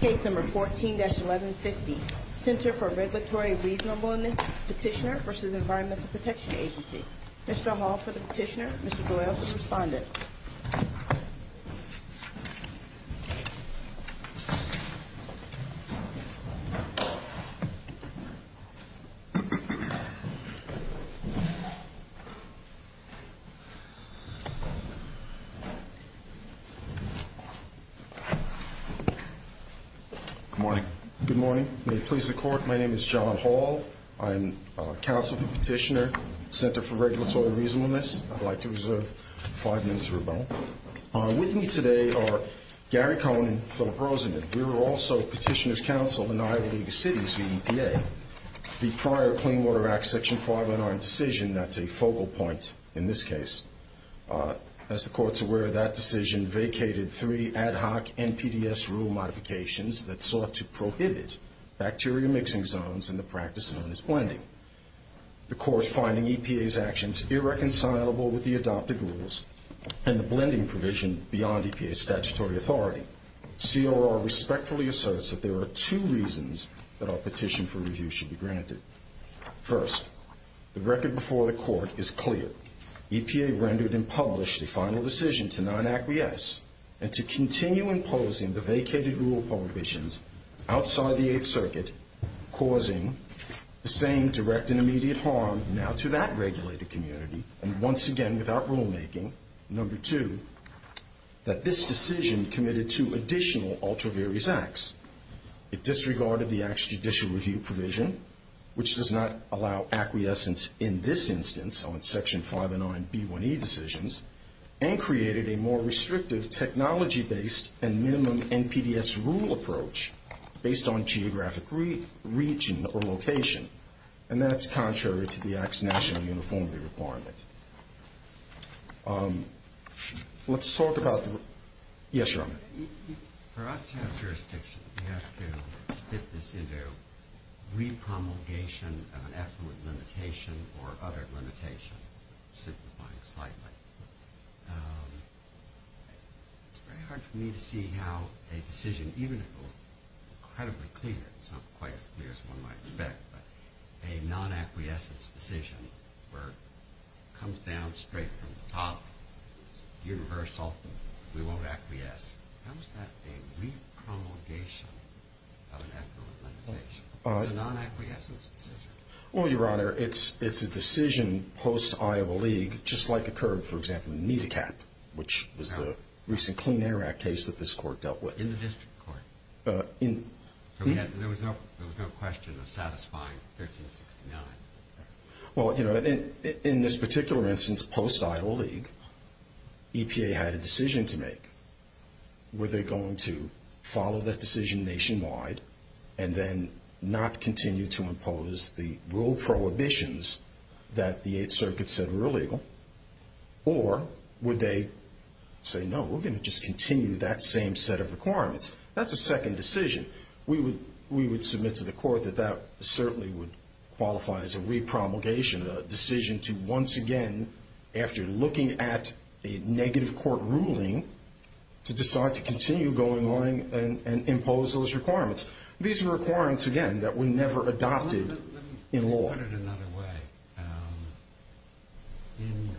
Case number 14-1150, Center for Regulatory Reasonableness Petitioner v. Environmental Protection Agency Mr. Hall for the petitioner, Mr. Doyle for the respondent Good morning. May it please the court, my name is John Hall. I am counsel for the petitioner, Center for Regulatory Reasonableness. I'd like to reserve five minutes for rebuttal. With me today are Gary Cohen and Philip Rosenden. We were also petitioner's counsel in Iowa League of Cities v. EPA. The prior Clean Water Act Section 509 decision, that's a focal point in this case. As the court's aware, that decision vacated three ad hoc NPDES rule modifications that sought to prohibit bacteria mixing zones in the practice known as blending. The court's finding EPA's actions irreconcilable with the adopted rules and the blending provision beyond EPA's statutory authority. CRR respectfully asserts that there are two reasons that our petition for review should be granted. First, the record before the court is clear. EPA rendered and published the final decision to not acquiesce and to continue imposing the vacated rule prohibitions outside the Eighth Circuit, causing the same direct and immediate harm now to that regulated community and once again without rulemaking. Number two, that this decision committed to additional ultra-various acts. It disregarded the Act's judicial review provision, which does not allow acquiescence in this instance on Section 509B1E decisions, and created a more restrictive technology-based and minimum NPDES rule approach based on geographic region or location. And that's contrary to the Act's national uniformity requirement. Let's talk about the... Yes, Your Honor. For us to have jurisdiction, we have to fit this into re-promulgation of an affluent limitation or other limitation, simplifying slightly. It's very hard for me to see how a decision, even though incredibly clear, it's not quite as clear as one might expect, but a non-acquiescence decision where it comes down straight from the top, universal, we won't acquiesce. How is that a re-promulgation of an affluent limitation? It's a non-acquiescence decision. Well, Your Honor, it's a decision post-Iowa League, just like occurred, for example, in NIDACAP, which was the recent Clean Air Act case that this Court dealt with. In the District Court. There was no question of satisfying 1369. Well, you know, in this particular instance, post-Iowa League, EPA had a decision to make. Were they going to follow that decision nationwide and then not continue to impose the rule prohibitions that the Eighth Circuit said were illegal? Or would they say, no, we're going to just continue that same set of requirements? That's a second decision. We would submit to the Court that that certainly would qualify as a re-promulgation, a decision to once again, after looking at a negative court ruling, to decide to continue going along and impose those requirements. These are requirements, again, that were never adopted in law. Let me put it another way. In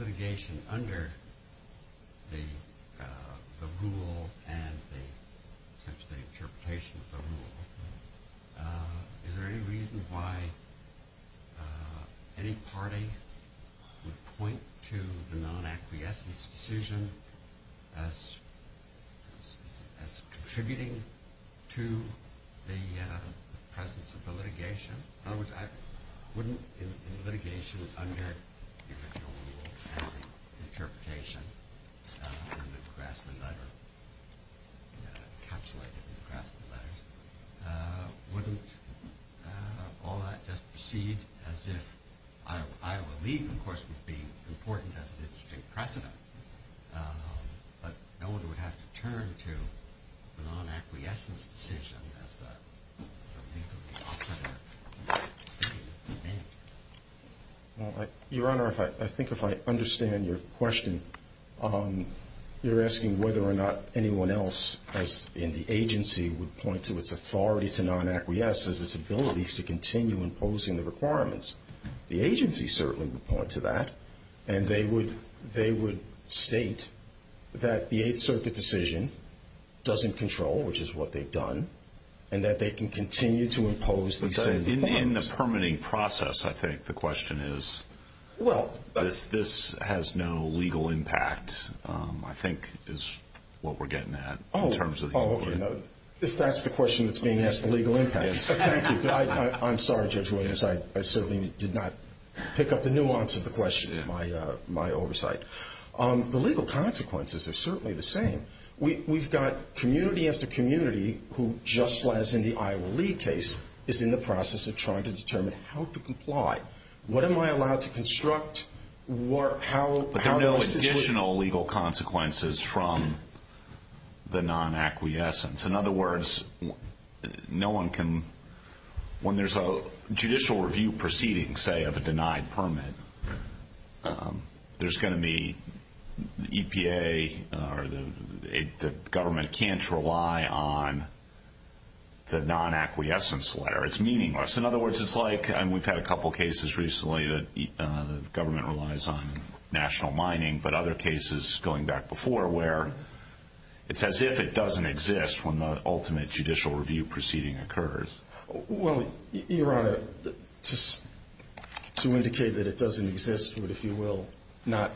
litigation under the rule and the interpretation of the rule, is there any reason why any party would point to the non-acquiescence decision as contributing to the presence of the litigation? In other words, wouldn't litigation under the original rule and the interpretation in the Grassley letter, encapsulated in the Grassley letters, wouldn't all that just proceed as if Iowa League, of course, would be important as a district precedent, but no one would have to turn to the non-acquiescence decision as a legally authoritative decision? Your Honor, I think if I understand your question, you're asking whether or not anyone else in the agency would point to its authority to non-acquiesce as its ability to continue imposing the requirements. The agency certainly would point to that. And they would state that the Eighth Circuit decision doesn't control, which is what they've done, and that they can continue to impose the same requirements. In the permitting process, I think the question is, this has no legal impact, I think is what we're getting at in terms of the inquiry. If that's the question that's being asked, the legal impact. I'm sorry, Judge Williams, I certainly did not pick up the nuance of the question in my oversight. The legal consequences are certainly the same. We've got community after community who, just as in the Iowa League case, is in the process of trying to determine how to comply. What am I allowed to construct? But there are no additional legal consequences from the non-acquiescence. In other words, when there's a judicial review proceeding, say, of a denied permit, there's going to be EPA or the government can't rely on the non-acquiescence letter. It's meaningless. In other words, it's like we've had a couple cases recently that the government relies on national mining, but other cases going back before where it's as if it doesn't exist when the ultimate judicial review proceeding occurs. Your Honor, to indicate that it doesn't exist, but if you will not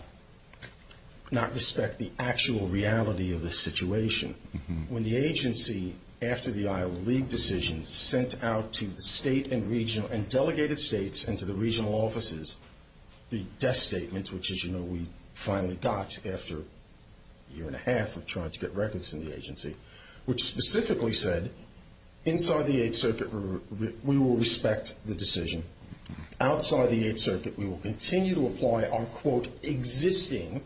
respect the actual reality of the situation, when the agency, after the Iowa League decision, sent out to the state and regional and delegated states and to the regional offices, the death statement, which, as you know, we finally got after a year and a half of trying to get records from the agency, which specifically said, inside the Eighth Circuit, we will respect the decision. Outside the Eighth Circuit, we will continue to apply our, quote, existing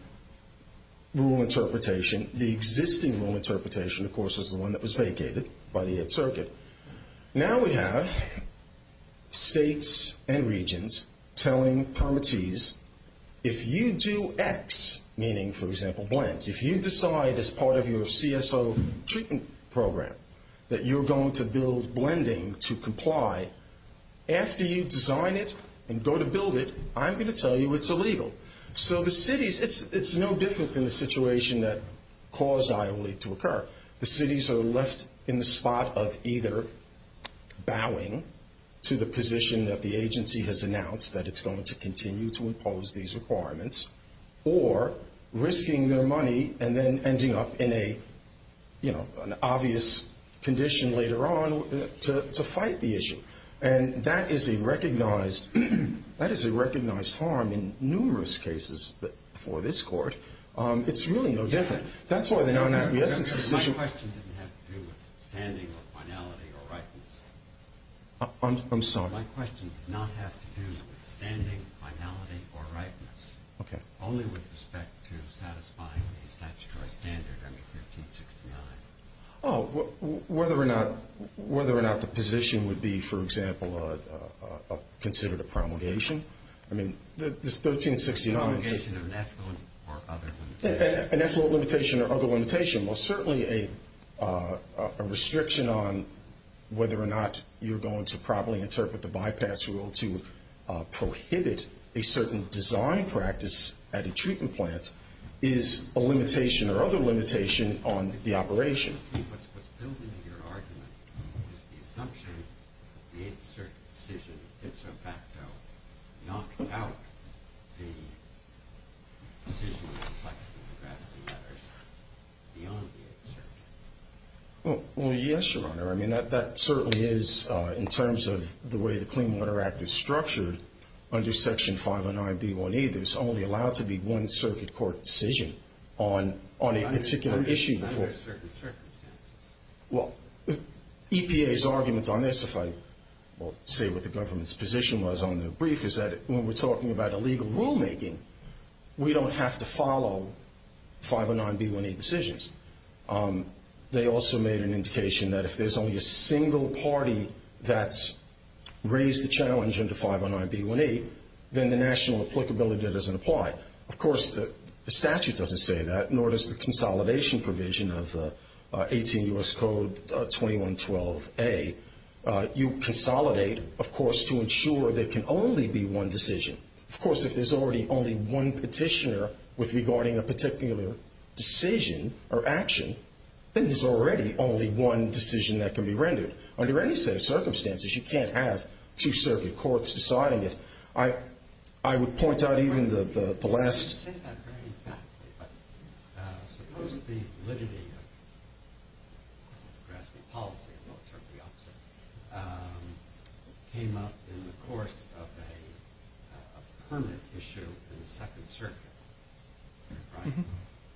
rule interpretation. The existing rule interpretation, of course, is the one that was vacated by the Eighth Circuit. Now we have states and regions telling parties, if you do X, meaning, for example, blend, if you decide as part of your CSO treatment program that you're going to build blending to comply, after you design it and go to build it, I'm going to tell you it's illegal. So the cities, it's no different than the situation that caused Iowa League to occur. The cities are left in the spot of either bowing to the position that the agency has announced that it's going to continue to impose these requirements, or risking their money and then ending up in an obvious condition later on to fight the issue. And that is a recognized harm in numerous cases before this court. It's really no different. My question didn't have to do with standing or finality or rightness. I'm sorry? My question did not have to do with standing, finality, or rightness. Okay. Only with respect to satisfying a statutory standard under 1369. Oh, whether or not the position would be, for example, considered a promulgation? I mean, this 1369. A promulgation of an affluent or other limitation. An affluent limitation or other limitation. Well, certainly a restriction on whether or not you're going to properly interpret the bypass rule to prohibit a certain design practice at a treatment plant is a limitation or other limitation on the operation. What's building in your argument is the assumption that the Eighth Circuit decision, ipso facto, knocked out the decision reflecting the grassy matters beyond the Eighth Circuit. Well, yes, Your Honor. I mean, that certainly is, in terms of the way the Clean Water Act is structured, under Section 509B1E there's only allowed to be one circuit court decision on a particular issue. Well, EPA's argument on this, if I say what the government's position was on the brief, is that when we're talking about illegal rulemaking, we don't have to follow 509B1E decisions. They also made an indication that if there's only a single party that's raised the challenge under 509B1E, then the national applicability doesn't apply. Well, of course, the statute doesn't say that, nor does the consolidation provision of 18 U.S. Code 2112A. You consolidate, of course, to ensure there can only be one decision. Of course, if there's already only one petitioner regarding a particular decision or action, then there's already only one decision that can be rendered. Under any set of circumstances, you can't have two circuit courts deciding it. I would point out even the last— You say that very tactfully, but suppose the validity of grassroot policy came up in the course of a permanent issue in the Second Circuit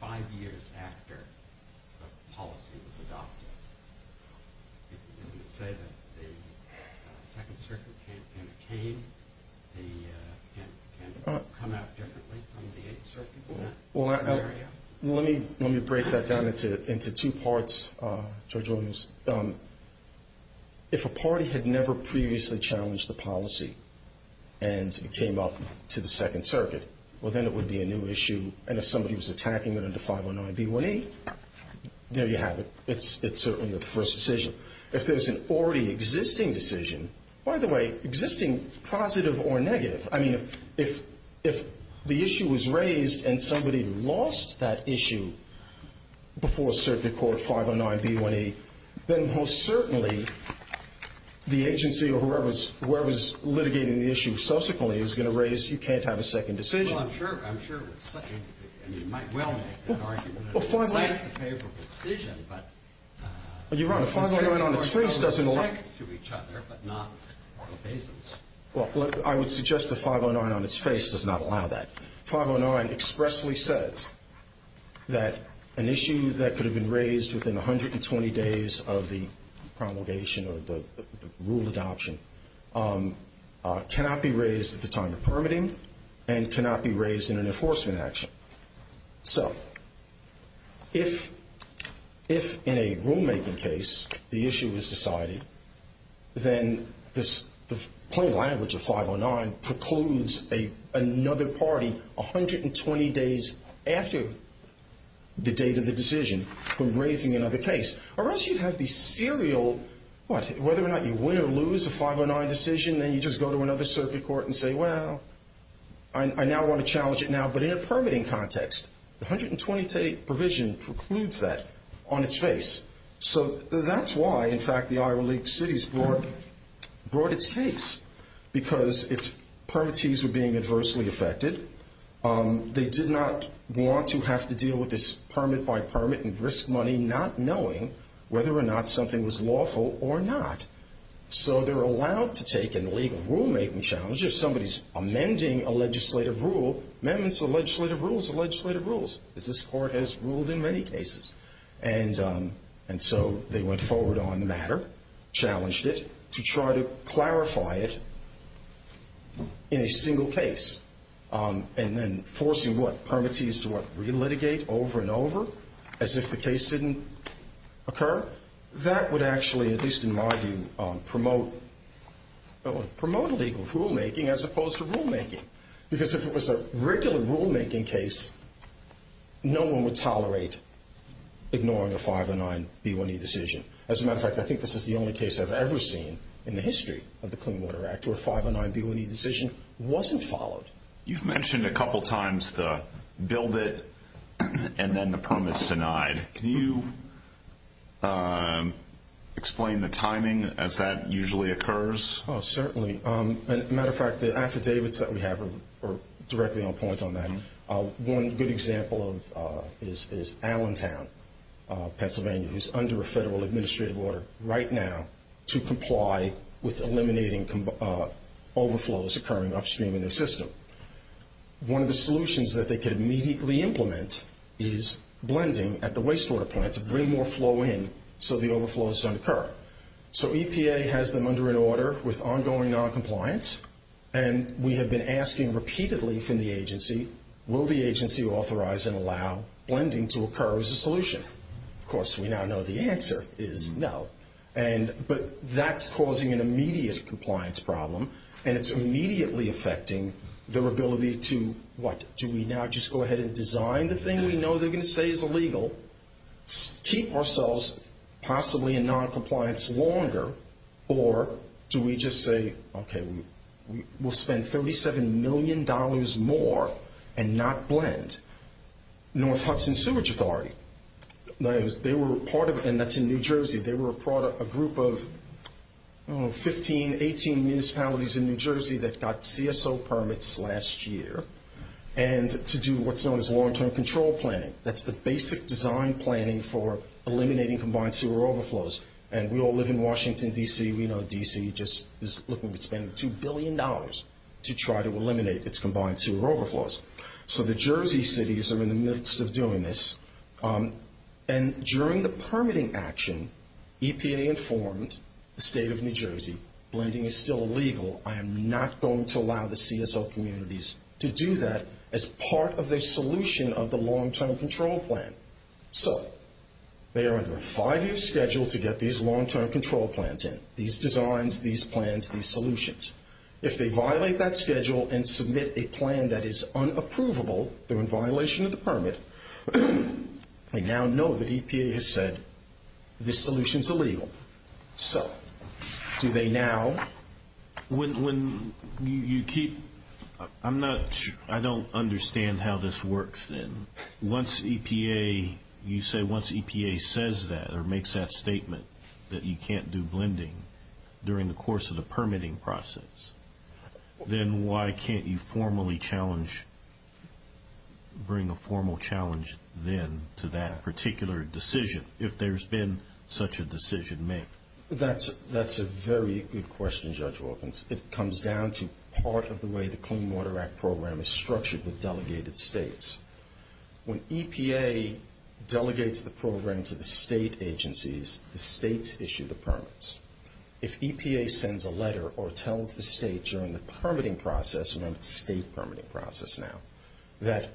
five years after the policy was adopted. You say that the Second Circuit campaign came. Can it come out differently from the Eighth Circuit? Let me break that down into two parts, Judge Williams. If a party had never previously challenged the policy and it came up to the Second Circuit, well, then it would be a new issue. And if somebody was attacking it under 509B1E, there you have it. It's certainly the first decision. If there's an already existing decision, by the way, existing, positive or negative, I mean, if the issue was raised and somebody lost that issue before Circuit Court 509B1E, then most certainly the agency or whoever's litigating the issue subsequently is going to raise, you can't have a second decision. Well, finally— It's a favorable decision, but— You're right. A 509 on its face doesn't like— Respectful to each other, but not obeisance. Well, I would suggest the 509 on its face does not allow that. 509 expressly says that an issue that could have been raised within 120 days of the promulgation or the rule adoption cannot be raised at the time of permitting and cannot be raised in an enforcement action. So, if in a rulemaking case the issue is decided, then the plain language of 509 precludes another party 120 days after the date of the decision from raising another case. Or else you'd have the serial, whether or not you win or lose a 509 decision, then you just go to another Circuit Court and say, well, I now want to challenge it now, but in a permitting context. The 120-day provision precludes that on its face. So, that's why, in fact, the Iowa League of Cities brought its case because its permittees were being adversely affected. They did not want to have to deal with this permit-by-permit and risk money not knowing whether or not something was lawful or not. So, they're allowed to take a legal rulemaking challenge. If somebody's amending a legislative rule, amendments to legislative rules are legislative rules as this Court has ruled in many cases. And so, they went forward on the matter, challenged it to try to clarify it in a single case and then forcing what permittees to what re-litigate over and over as if the case didn't occur. That would actually, at least in my view, promote legal rulemaking as opposed to rulemaking. Because if it was a regular rulemaking case, no one would tolerate ignoring a 509-B1E decision. As a matter of fact, I think this is the only case I've ever seen in the history of the Clean Water Act where a 509-B1E decision wasn't followed. You've mentioned a couple times the build it and then the permits denied. Can you explain the timing as that usually occurs? Oh, certainly. As a matter of fact, the affidavits that we have are directly on point on that. One good example is Allentown, Pennsylvania, who's under a federal administrative order right now to comply with eliminating overflows occurring upstream in their system. One of the solutions that they could immediately implement is blending at the wastewater plant to bring more flow in so the overflows don't occur. So EPA has them under an order with ongoing noncompliance, and we have been asking repeatedly from the agency, will the agency authorize and allow blending to occur as a solution? Of course, we now know the answer is no. But that's causing an immediate compliance problem, and it's immediately affecting their ability to, what, do we now just go ahead and design the thing we know they're going to say is illegal, keep ourselves possibly in noncompliance longer, or do we just say, okay, we'll spend $37 million more and not blend? North Hudson Sewage Authority, they were a part of it, and that's in New Jersey. They were a group of 15, 18 municipalities in New Jersey that got CSO permits last year and to do what's known as long-term control planning. That's the basic design planning for eliminating combined sewer overflows. And we all live in Washington, D.C. We know D.C. just is looking to spend $2 billion to try to eliminate its combined sewer overflows. So the Jersey cities are in the midst of doing this. And during the permitting action, EPA informed the state of New Jersey, blending is still illegal, I am not going to allow the CSO communities to do that as part of the solution of the long-term control plan. So they are under a five-year schedule to get these long-term control plans in, these designs, these plans, these solutions. If they violate that schedule and submit a plan that is unapprovable, they're in violation of the permit, they now know that EPA has said this solution is illegal. So do they now? I don't understand how this works then. Once EPA says that or makes that statement that you can't do blending during the course of the permitting process, then why can't you formally challenge, bring a formal challenge then to that particular decision, if there's been such a decision made? That's a very good question, Judge Wilkins. It comes down to part of the way the Clean Water Act program is structured with delegated states. When EPA delegates the program to the state agencies, the states issue the permits. If EPA sends a letter or tells the state during the permitting process, and it's a state permitting process now, that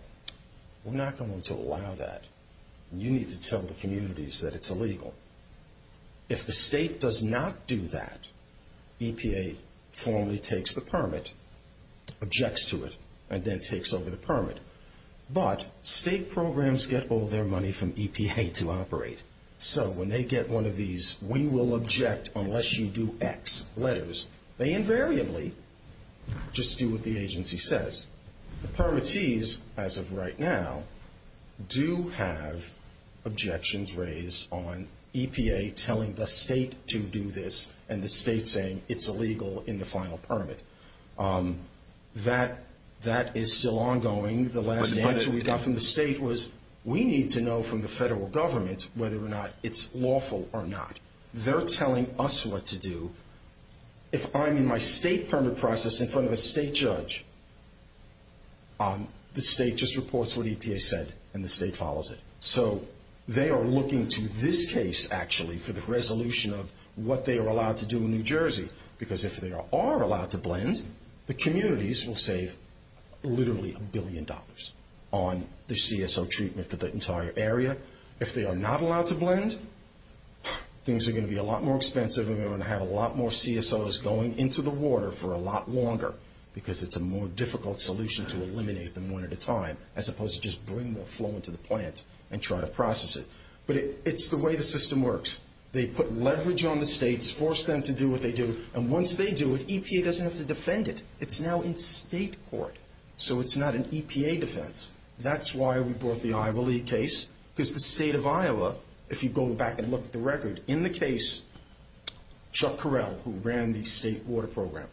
we're not going to allow that, you need to tell the communities that it's illegal. If the state does not do that, EPA formally takes the permit, objects to it, and then takes over the permit. But state programs get all their money from EPA to operate. So when they get one of these, we will object unless you do X letters, they invariably just do what the agency says. The permittees, as of right now, do have objections raised on EPA telling the state to do this and the state saying it's illegal in the final permit. That is still ongoing. The last answer we got from the state was, we need to know from the federal government whether or not it's lawful or not. They're telling us what to do. If I'm in my state permit process in front of a state judge, the state just reports what EPA said and the state follows it. So they are looking to this case, actually, for the resolution of what they are allowed to do in New Jersey, because if they are allowed to blend, the communities will save literally a billion dollars on the CSO treatment for the entire area. If they are not allowed to blend, things are going to be a lot more expensive and we're going to have a lot more CSOs going into the water for a lot longer because it's a more difficult solution to eliminate them one at a time as opposed to just bring the flow into the plant and try to process it. But it's the way the system works. They put leverage on the states, force them to do what they do, and once they do it, EPA doesn't have to defend it. It's now in state court. So it's not an EPA defense. That's why we brought the Iowa case because the state of Iowa, if you go back and look at the record, in the case, Chuck Correll, who ran the state water program,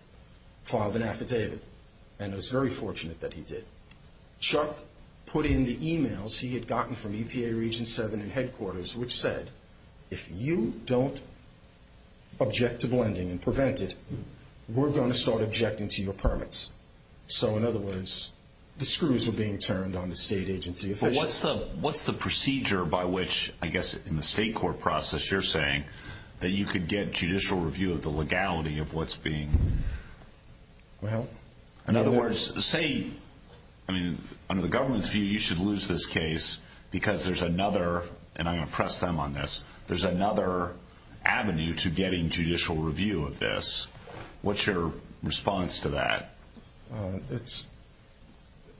filed an affidavit, and it was very fortunate that he did. Chuck put in the emails he had gotten from EPA Region 7 and headquarters, which said, if you don't object to blending and prevent it, we're going to start objecting to your permits. So in other words, the screws were being turned on the state agency officials. But what's the procedure by which, I guess in the state court process you're saying, that you could get judicial review of the legality of what's being done? In other words, say, under the government's view, you should lose this case because there's another, and I'm going to press them on this, there's another avenue to getting judicial review of this. What's your response to that?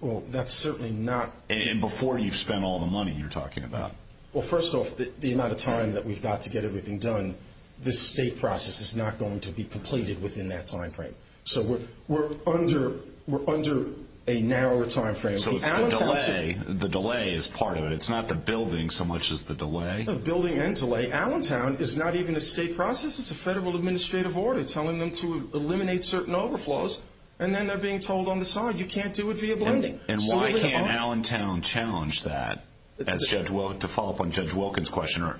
Well, that's certainly not. And before you've spent all the money you're talking about. Well, first off, the amount of time that we've got to get everything done, this state process is not going to be completed within that time frame. So we're under a narrower time frame. So the delay is part of it. It's not the building so much as the delay. The building and delay. Allentown is not even a state process. It's a federal administrative order telling them to eliminate certain overflows, and then they're being told on the side, you can't do it via blending. And why can't Allentown challenge that, to follow up on Judge Wilkins' question?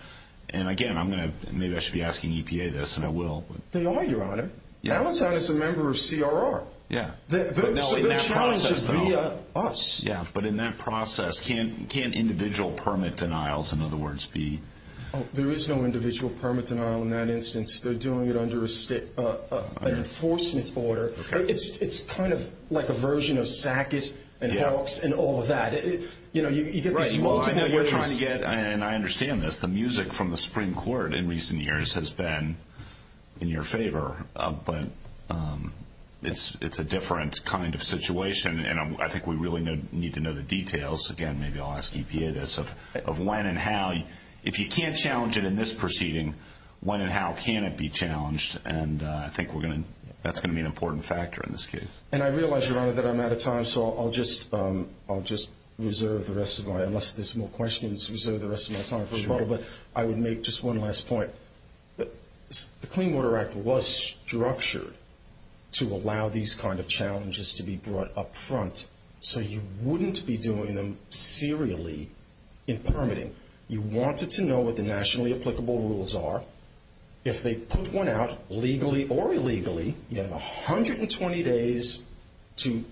And again, maybe I should be asking EPA this, and I will. They are, Your Honor. Allentown is a member of CRR. Yeah. So the challenge is via us. Yeah. But in that process, can individual permit denials, in other words, be? There is no individual permit denial in that instance. They're doing it under an enforcement order. It's kind of like a version of SAC-IT and HELCS and all of that. You know, you get these multiple ways. Right. Well, I know you're trying to get, and I understand this, the music from the Supreme Court in recent years has been in your favor. But it's a different kind of situation, and I think we really need to know the details. Again, maybe I'll ask EPA this, of when and how. If you can't challenge it in this proceeding, when and how can it be challenged? And I think that's going to be an important factor in this case. And I realize, Your Honor, that I'm out of time, so I'll just reserve the rest of my time, unless there's more questions, reserve the rest of my time for a while. Sure. But I would make just one last point. The Clean Water Act was structured to allow these kind of challenges to be brought up front. So you wouldn't be doing them serially in permitting. You wanted to know what the nationally applicable rules are. If they put one out, legally or illegally, you have 120 days to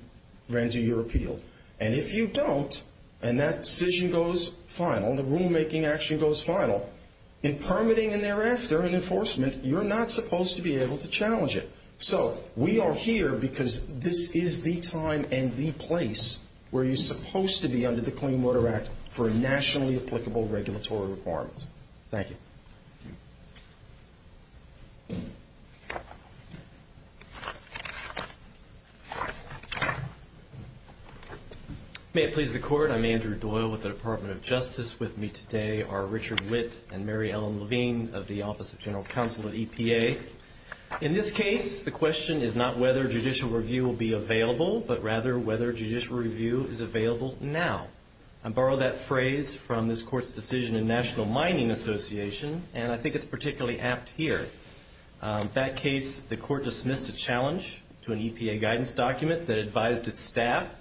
render your appeal. And if you don't, and that decision goes final, and the rulemaking action goes final, in permitting and thereafter in enforcement, you're not supposed to be able to challenge it. So we are here because this is the time and the place where you're supposed to be under the Clean Water Act for a nationally applicable regulatory requirement. Thank you. May it please the Court, I'm Andrew Doyle with the Department of Justice. With me today are Richard Witt and Mary Ellen Levine of the Office of General Counsel at EPA. In this case, the question is not whether judicial review will be available, but rather whether judicial review is available now. I borrow that phrase from this Court's decision in National Mining Association, and I think it's particularly apt here. That case, the Court dismissed a challenge to an EPA guidance document that advised its staff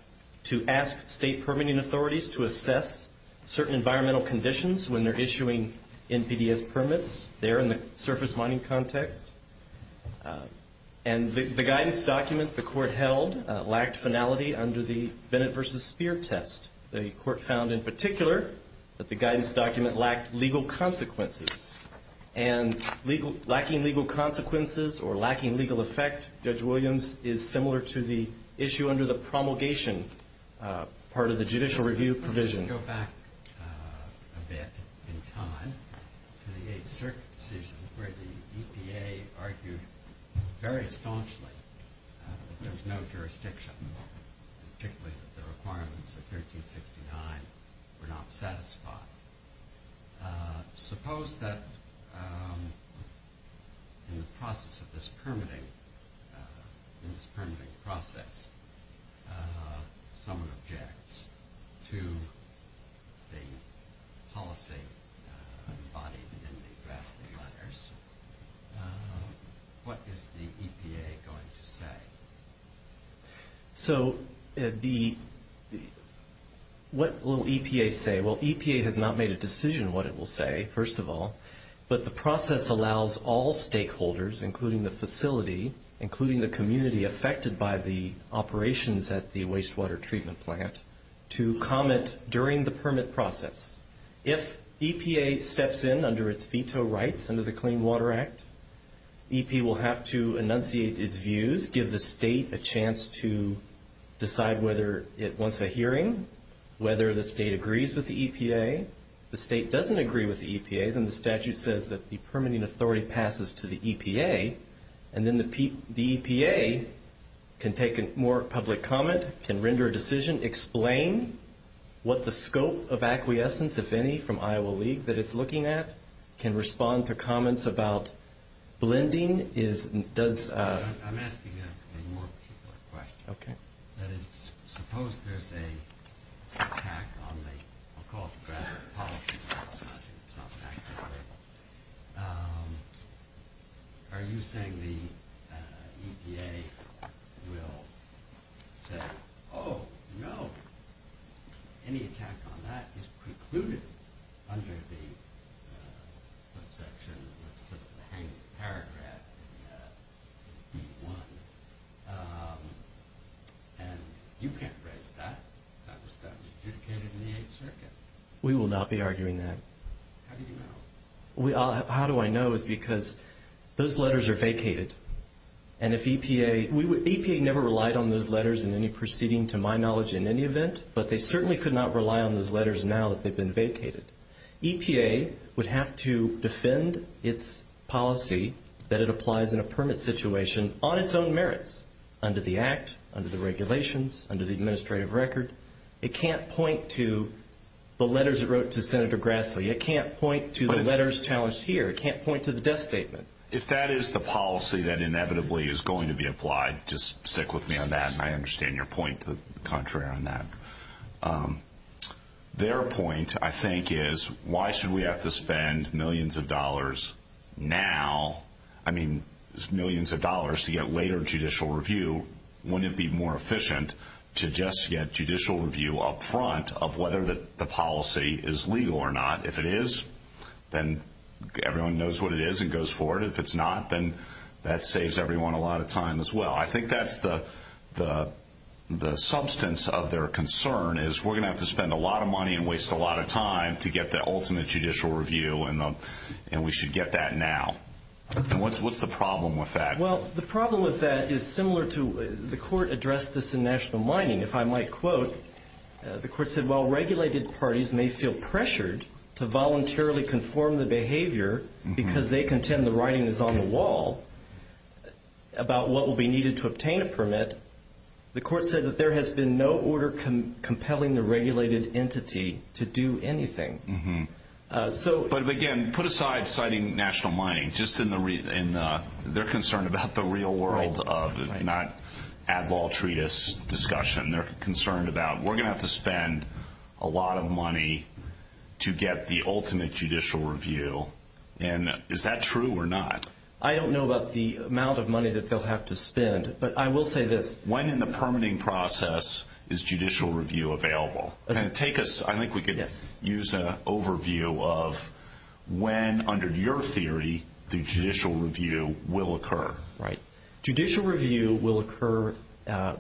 to ask state permitting authorities to assess certain environmental conditions when they're issuing NPDES permits there in the surface mining context. And the guidance document the Court held lacked finality under the Bennett v. Speer test. The Court found in particular that the guidance document lacked legal consequences. And lacking legal consequences or lacking legal effect, Judge Williams, is similar to the issue under the promulgation part of the judicial review provision. Let's just go back a bit in time to the 8th Circuit decision where the EPA argued very staunchly that there was no jurisdiction, particularly that the requirements of 1369 were not satisfied. Suppose that in the process of this permitting, in this permitting process, someone objects to the policy embodied in the drafting letters. What is the EPA going to say? So what will EPA say? Well, EPA has not made a decision what it will say, first of all, but the process allows all stakeholders, including the facility, including the community affected by the operations at the wastewater treatment plant, to comment during the permit process. If EPA steps in under its veto rights under the Clean Water Act, EPA will have to enunciate its views, give the state a chance to decide whether it wants a hearing, whether the state agrees with the EPA. If the state doesn't agree with the EPA, then the statute says that the permitting authority passes to the EPA, and then the EPA can take more public comment, can render a decision, explain what the scope of acquiescence, if any, from Iowa League that it's looking at, can respond to comments about blending. I'm asking a more particular question. Okay. That is, suppose there's an attack on the, I'll call it the draft policy, I'm not saying it's not an attack, however. Are you saying the EPA will say, oh, no, any attack on that is precluded under the subsection, the hanging paragraph in B-1, and you can't raise that? That was adjudicated in the Eighth Circuit. We will not be arguing that. How do you know? How do I know is because those letters are vacated. And if EPA, EPA never relied on those letters in any proceeding, to my knowledge, in any event, but they certainly could not rely on those letters now that they've been vacated. EPA would have to defend its policy that it applies in a permit situation on its own merits, under the Act, under the regulations, under the administrative record. It can't point to the letters it wrote to Senator Grassley. It can't point to the letters challenged here. It can't point to the death statement. If that is the policy that inevitably is going to be applied, just stick with me on that, and I understand your point, the contrary on that. Their point, I think, is why should we have to spend millions of dollars now, I mean millions of dollars to get later judicial review, wouldn't it be more efficient to just get judicial review up front of whether the policy is legal or not? If it is, then everyone knows what it is and goes for it. If it's not, then that saves everyone a lot of time as well. I think that's the substance of their concern is we're going to have to spend a lot of money and waste a lot of time to get the ultimate judicial review, and we should get that now. And what's the problem with that? Well, the problem with that is similar to the court addressed this in national mining. If I might quote, the court said, while regulated parties may feel pressured to voluntarily conform the behavior because they contend the writing is on the wall about what will be needed to obtain a permit, the court said that there has been no order compelling the regulated entity to do anything. But again, put aside citing national mining. They're concerned about the real world of it, not at-law treatise discussion. They're concerned about we're going to have to spend a lot of money to get the ultimate judicial review, and is that true or not? I don't know about the amount of money that they'll have to spend, but I will say this. When in the permitting process is judicial review available? I think we could use an overview of when, under your theory, the judicial review will occur. Right. Judicial review will occur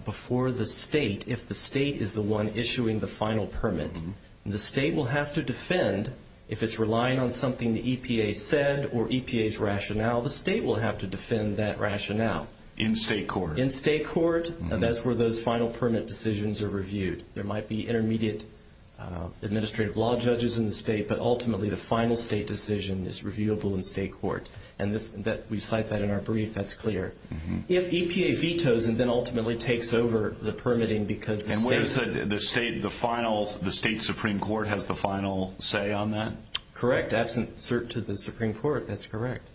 before the state, if the state is the one issuing the final permit. The state will have to defend. If it's relying on something the EPA said or EPA's rationale, the state will have to defend that rationale. In state court. In state court, and that's where those final permit decisions are reviewed. There might be intermediate administrative law judges in the state, but ultimately the final state decision is reviewable in state court. And we cite that in our brief. That's clear. If EPA vetoes and then ultimately takes over the permitting because the state- And where is the state, the final, the state Supreme Court has the final say on that? Correct. Absent cert to the Supreme Court, that's correct.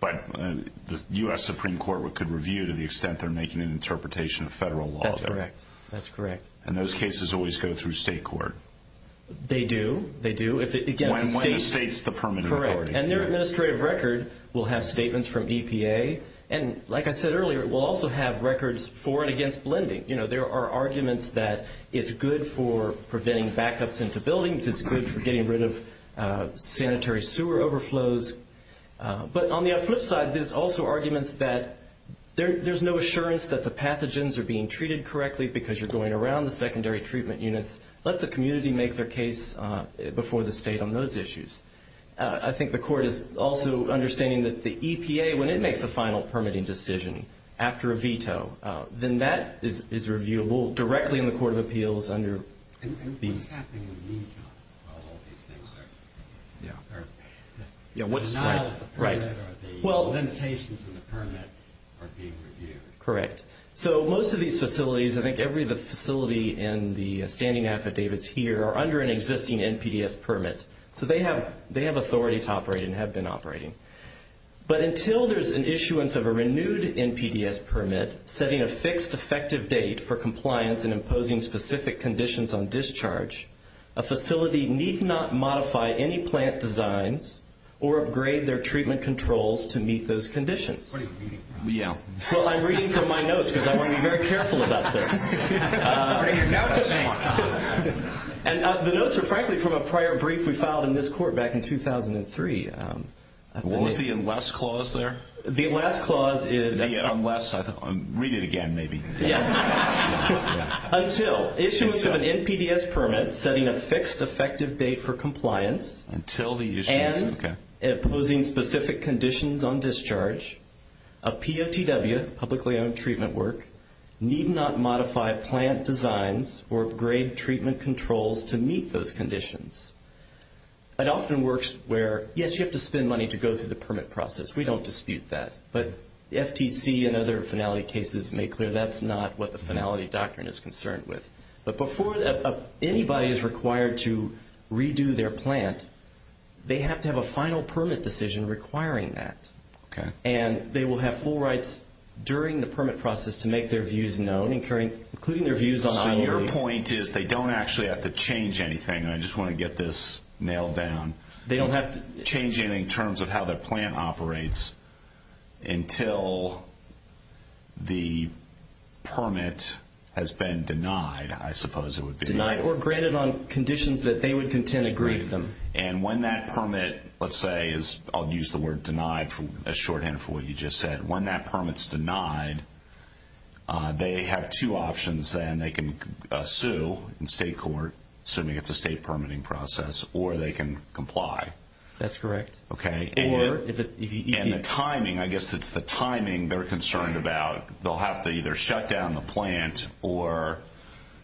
But the U.S. Supreme Court could review to the extent they're making an interpretation of federal law. That's correct. That's correct. And those cases always go through state court? They do. They do. When the state's the permitting authority. Correct. And their administrative record will have statements from EPA. And like I said earlier, it will also have records for and against lending. You know, there are arguments that it's good for preventing backups into buildings. It's good for getting rid of sanitary sewer overflows. But on the flip side, there's also arguments that there's no assurance that the pathogens are being treated correctly because you're going around the secondary treatment units. Let the community make their case before the state on those issues. I think the court is also understanding that the EPA, when it makes a final permitting decision after a veto, then that is reviewable directly in the Court of Appeals under the- And what's happening in Utah while all these things are- Yeah, what's- Right. Well, limitations in the permit are being reviewed. Correct. So most of these facilities, I think every facility in the standing affidavits here are under an existing NPDES permit. So they have authority to operate and have been operating. But until there's an issuance of a renewed NPDES permit setting a fixed effective date for compliance and imposing specific conditions on discharge, a facility need not modify any plant designs or upgrade their treatment controls to meet those conditions. What are you reading from? Yeah. Well, I'm reading from my notes because I want to be very careful about this. And the notes are frankly from a prior brief we filed in this court back in 2003. What was the unless clause there? The unless clause is- The unless, read it again maybe. Yes. Until issuance of an NPDES permit setting a fixed effective date for compliance- Until the issuance, okay. And imposing specific conditions on discharge, a POTW, publicly owned treatment work, need not modify plant designs or upgrade treatment controls to meet those conditions. It often works where, yes, you have to spend money to go through the permit process. We don't dispute that. But FTC and other finality cases make clear that's not what the finality doctrine is concerned with. But before anybody is required to redo their plant, they have to have a final permit decision requiring that. Okay. And they will have full rights during the permit process to make their views known, including their views on- So your point is they don't actually have to change anything, and I just want to get this nailed down. They don't have to- of how their plant operates until the permit has been denied, I suppose it would be. Denied or granted on conditions that they would contend agree with them. And when that permit, let's say, I'll use the word denied as shorthand for what you just said. When that permit's denied, they have two options then. They can sue in state court, assuming it's a state permitting process, or they can comply. That's correct. Okay. And the timing, I guess it's the timing they're concerned about. They'll have to either shut down the plant or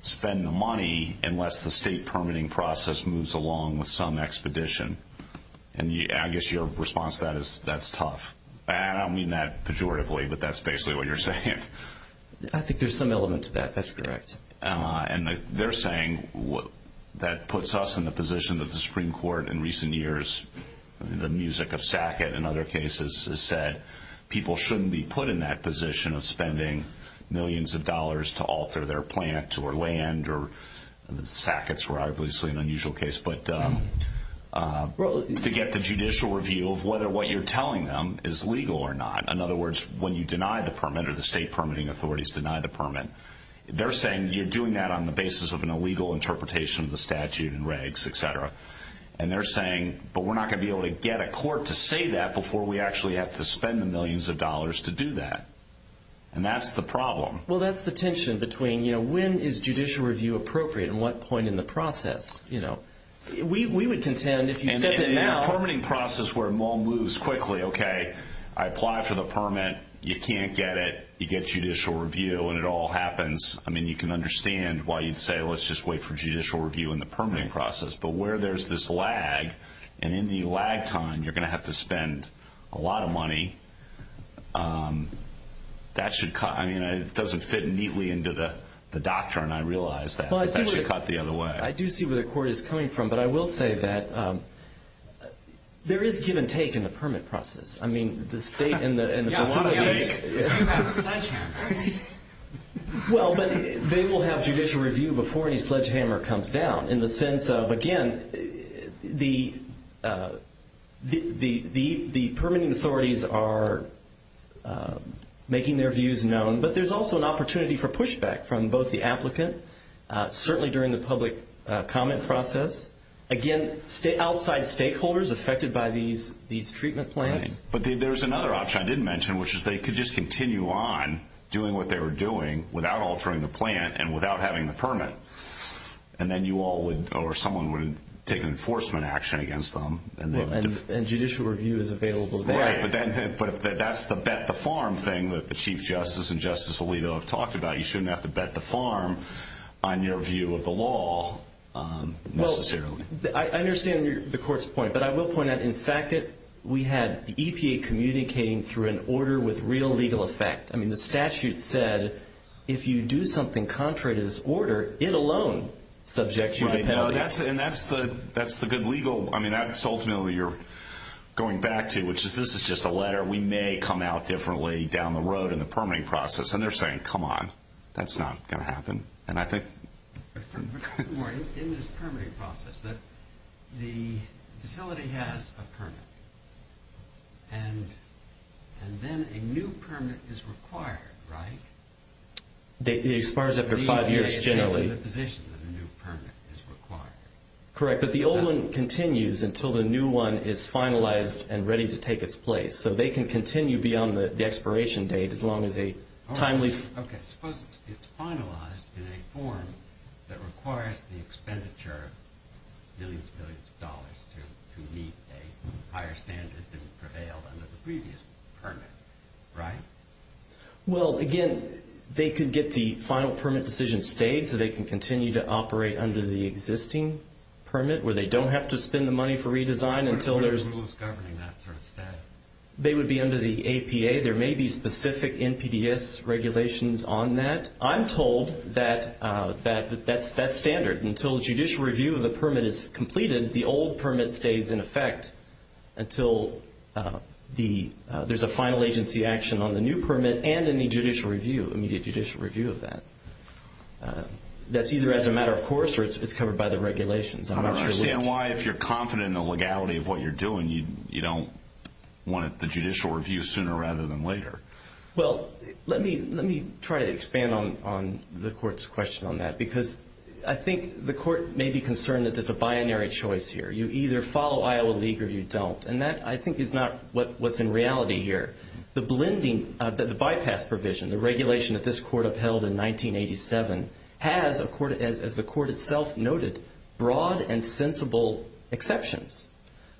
spend the money unless the state permitting process moves along with some expedition. And I guess your response to that is that's tough. And I don't mean that pejoratively, but that's basically what you're saying. I think there's some element to that. That's correct. And they're saying that puts us in the position that the Supreme Court in recent years, the music of Sackett in other cases, has said people shouldn't be put in that position of spending millions of dollars to alter their plant or land, or Sackett's rivalously an unusual case, but to get the judicial review of whether what you're telling them is legal or not. In other words, when you deny the permit or the state permitting authorities deny the permit, they're saying you're doing that on the basis of an illegal interpretation of the statute and regs, et cetera. And they're saying, but we're not going to be able to get a court to say that before we actually have to spend the millions of dollars to do that. And that's the problem. Well, that's the tension between when is judicial review appropriate and what point in the process. We would contend if you step in now. And in a permitting process where it all moves quickly, okay, I apply for the permit, you can't get it, you get judicial review, and it all happens. I mean, you can understand why you'd say let's just wait for judicial review in the permitting process. But where there's this lag, and in the lag time you're going to have to spend a lot of money, that should cut. I mean, it doesn't fit neatly into the doctrine, I realize that. But that should cut the other way. I do see where the court is coming from. But I will say that there is give and take in the permit process. I mean, the state and the facility. Give and take. Well, but they will have judicial review before any sledgehammer comes down in the sense of, again, the permitting authorities are making their views known. But there's also an opportunity for pushback from both the applicant, certainly during the public comment process. Again, outside stakeholders affected by these treatment plants. But there's another option I didn't mention, which is they could just continue on doing what they were doing without altering the plan and without having the permit. And then you all would, or someone would take enforcement action against them. And judicial review is available then. Right, but that's the bet the farm thing that the Chief Justice and Justice Alito have talked about. You shouldn't have to bet the farm on your view of the law necessarily. Well, I understand the court's point. But I will point out in SACIT we had the EPA communicating through an order with real legal effect. I mean, the statute said if you do something contrary to this order, it alone subjects you to penalties. Right, and that's the good legal, I mean, that's ultimately you're going back to, which is this is just a letter. We may come out differently down the road in the permitting process. And they're saying, come on, that's not going to happen. And I think... In this permitting process, the facility has a permit. And then a new permit is required, right? It expires after five years generally. The EPA is taking the position that a new permit is required. Correct, but the old one continues until the new one is finalized and ready to take its place. So they can continue beyond the expiration date as long as a timely... Okay, suppose it's finalized in a form that requires the expenditure of millions and billions of dollars to meet a higher standard than prevailed under the previous permit, right? Well, again, they could get the final permit decision stayed so they can continue to operate under the existing permit where they don't have to spend the money for redesign until there's... What are the rules governing that sort of status? They would be under the APA. There may be specific NPDES regulations on that. I'm told that that's standard. Until a judicial review of the permit is completed, the old permit stays in effect until there's a final agency action on the new permit and an immediate judicial review of that. That's either as a matter of course or it's covered by the regulations. I don't understand why if you're confident in the legality of what you're doing, you don't want the judicial review sooner rather than later. Well, let me try to expand on the court's question on that because I think the court may be concerned that there's a binary choice here. You either follow Iowa League or you don't, and that I think is not what's in reality here. The bypass provision, the regulation that this court upheld in 1987, has, as the court itself noted, broad and sensible exceptions.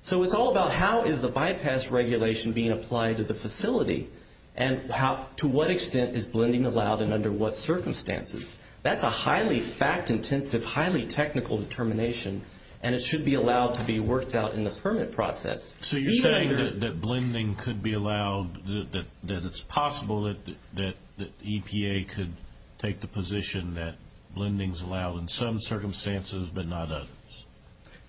So it's all about how is the bypass regulation being applied to the facility and to what extent is blending allowed and under what circumstances. That's a highly fact-intensive, highly technical determination, and it should be allowed to be worked out in the permit process. So you're saying that blending could be allowed, that it's possible that the EPA could take the position that blending is allowed in some circumstances but not others.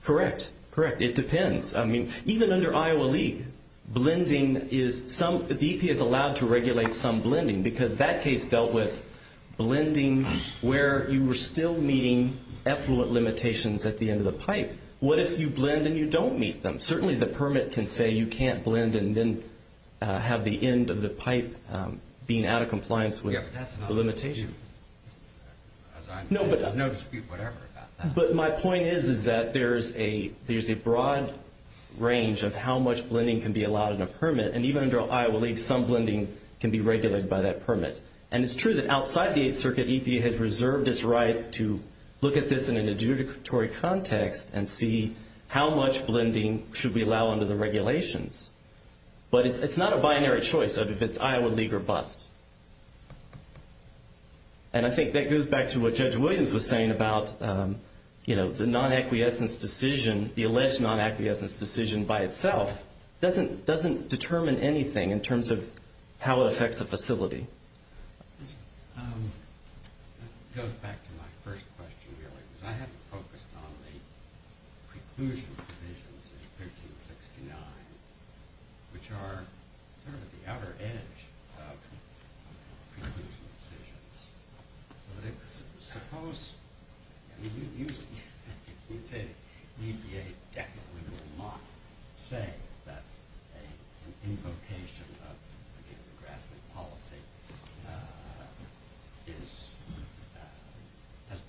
Correct. Correct. It depends. I mean, even under Iowa League, the EPA is allowed to regulate some blending because that case dealt with blending where you were still meeting effluent limitations at the end of the pipe. What if you blend and you don't meet them? Certainly the permit can say you can't blend and then have the end of the pipe being out of compliance with the limitations. There's no dispute whatever about that. But my point is that there's a broad range of how much blending can be allowed in a permit, and even under Iowa League, some blending can be regulated by that permit. And it's true that outside the Eighth Circuit, EPA has reserved its right to look at this in an adjudicatory context and see how much blending should we allow under the regulations. But it's not a binary choice of if it's Iowa League or BUST. And I think that goes back to what Judge Williams was saying about the non-acquiescence decision, the alleged non-acquiescence decision by itself, doesn't determine anything in terms of how it affects the facility. This goes back to my first question earlier, because I haven't focused on the preclusion decisions in 1569, which are sort of the outer edge of preclusion decisions. But suppose, you say EPA definitely will not say that an invocation of, again, grassroot policy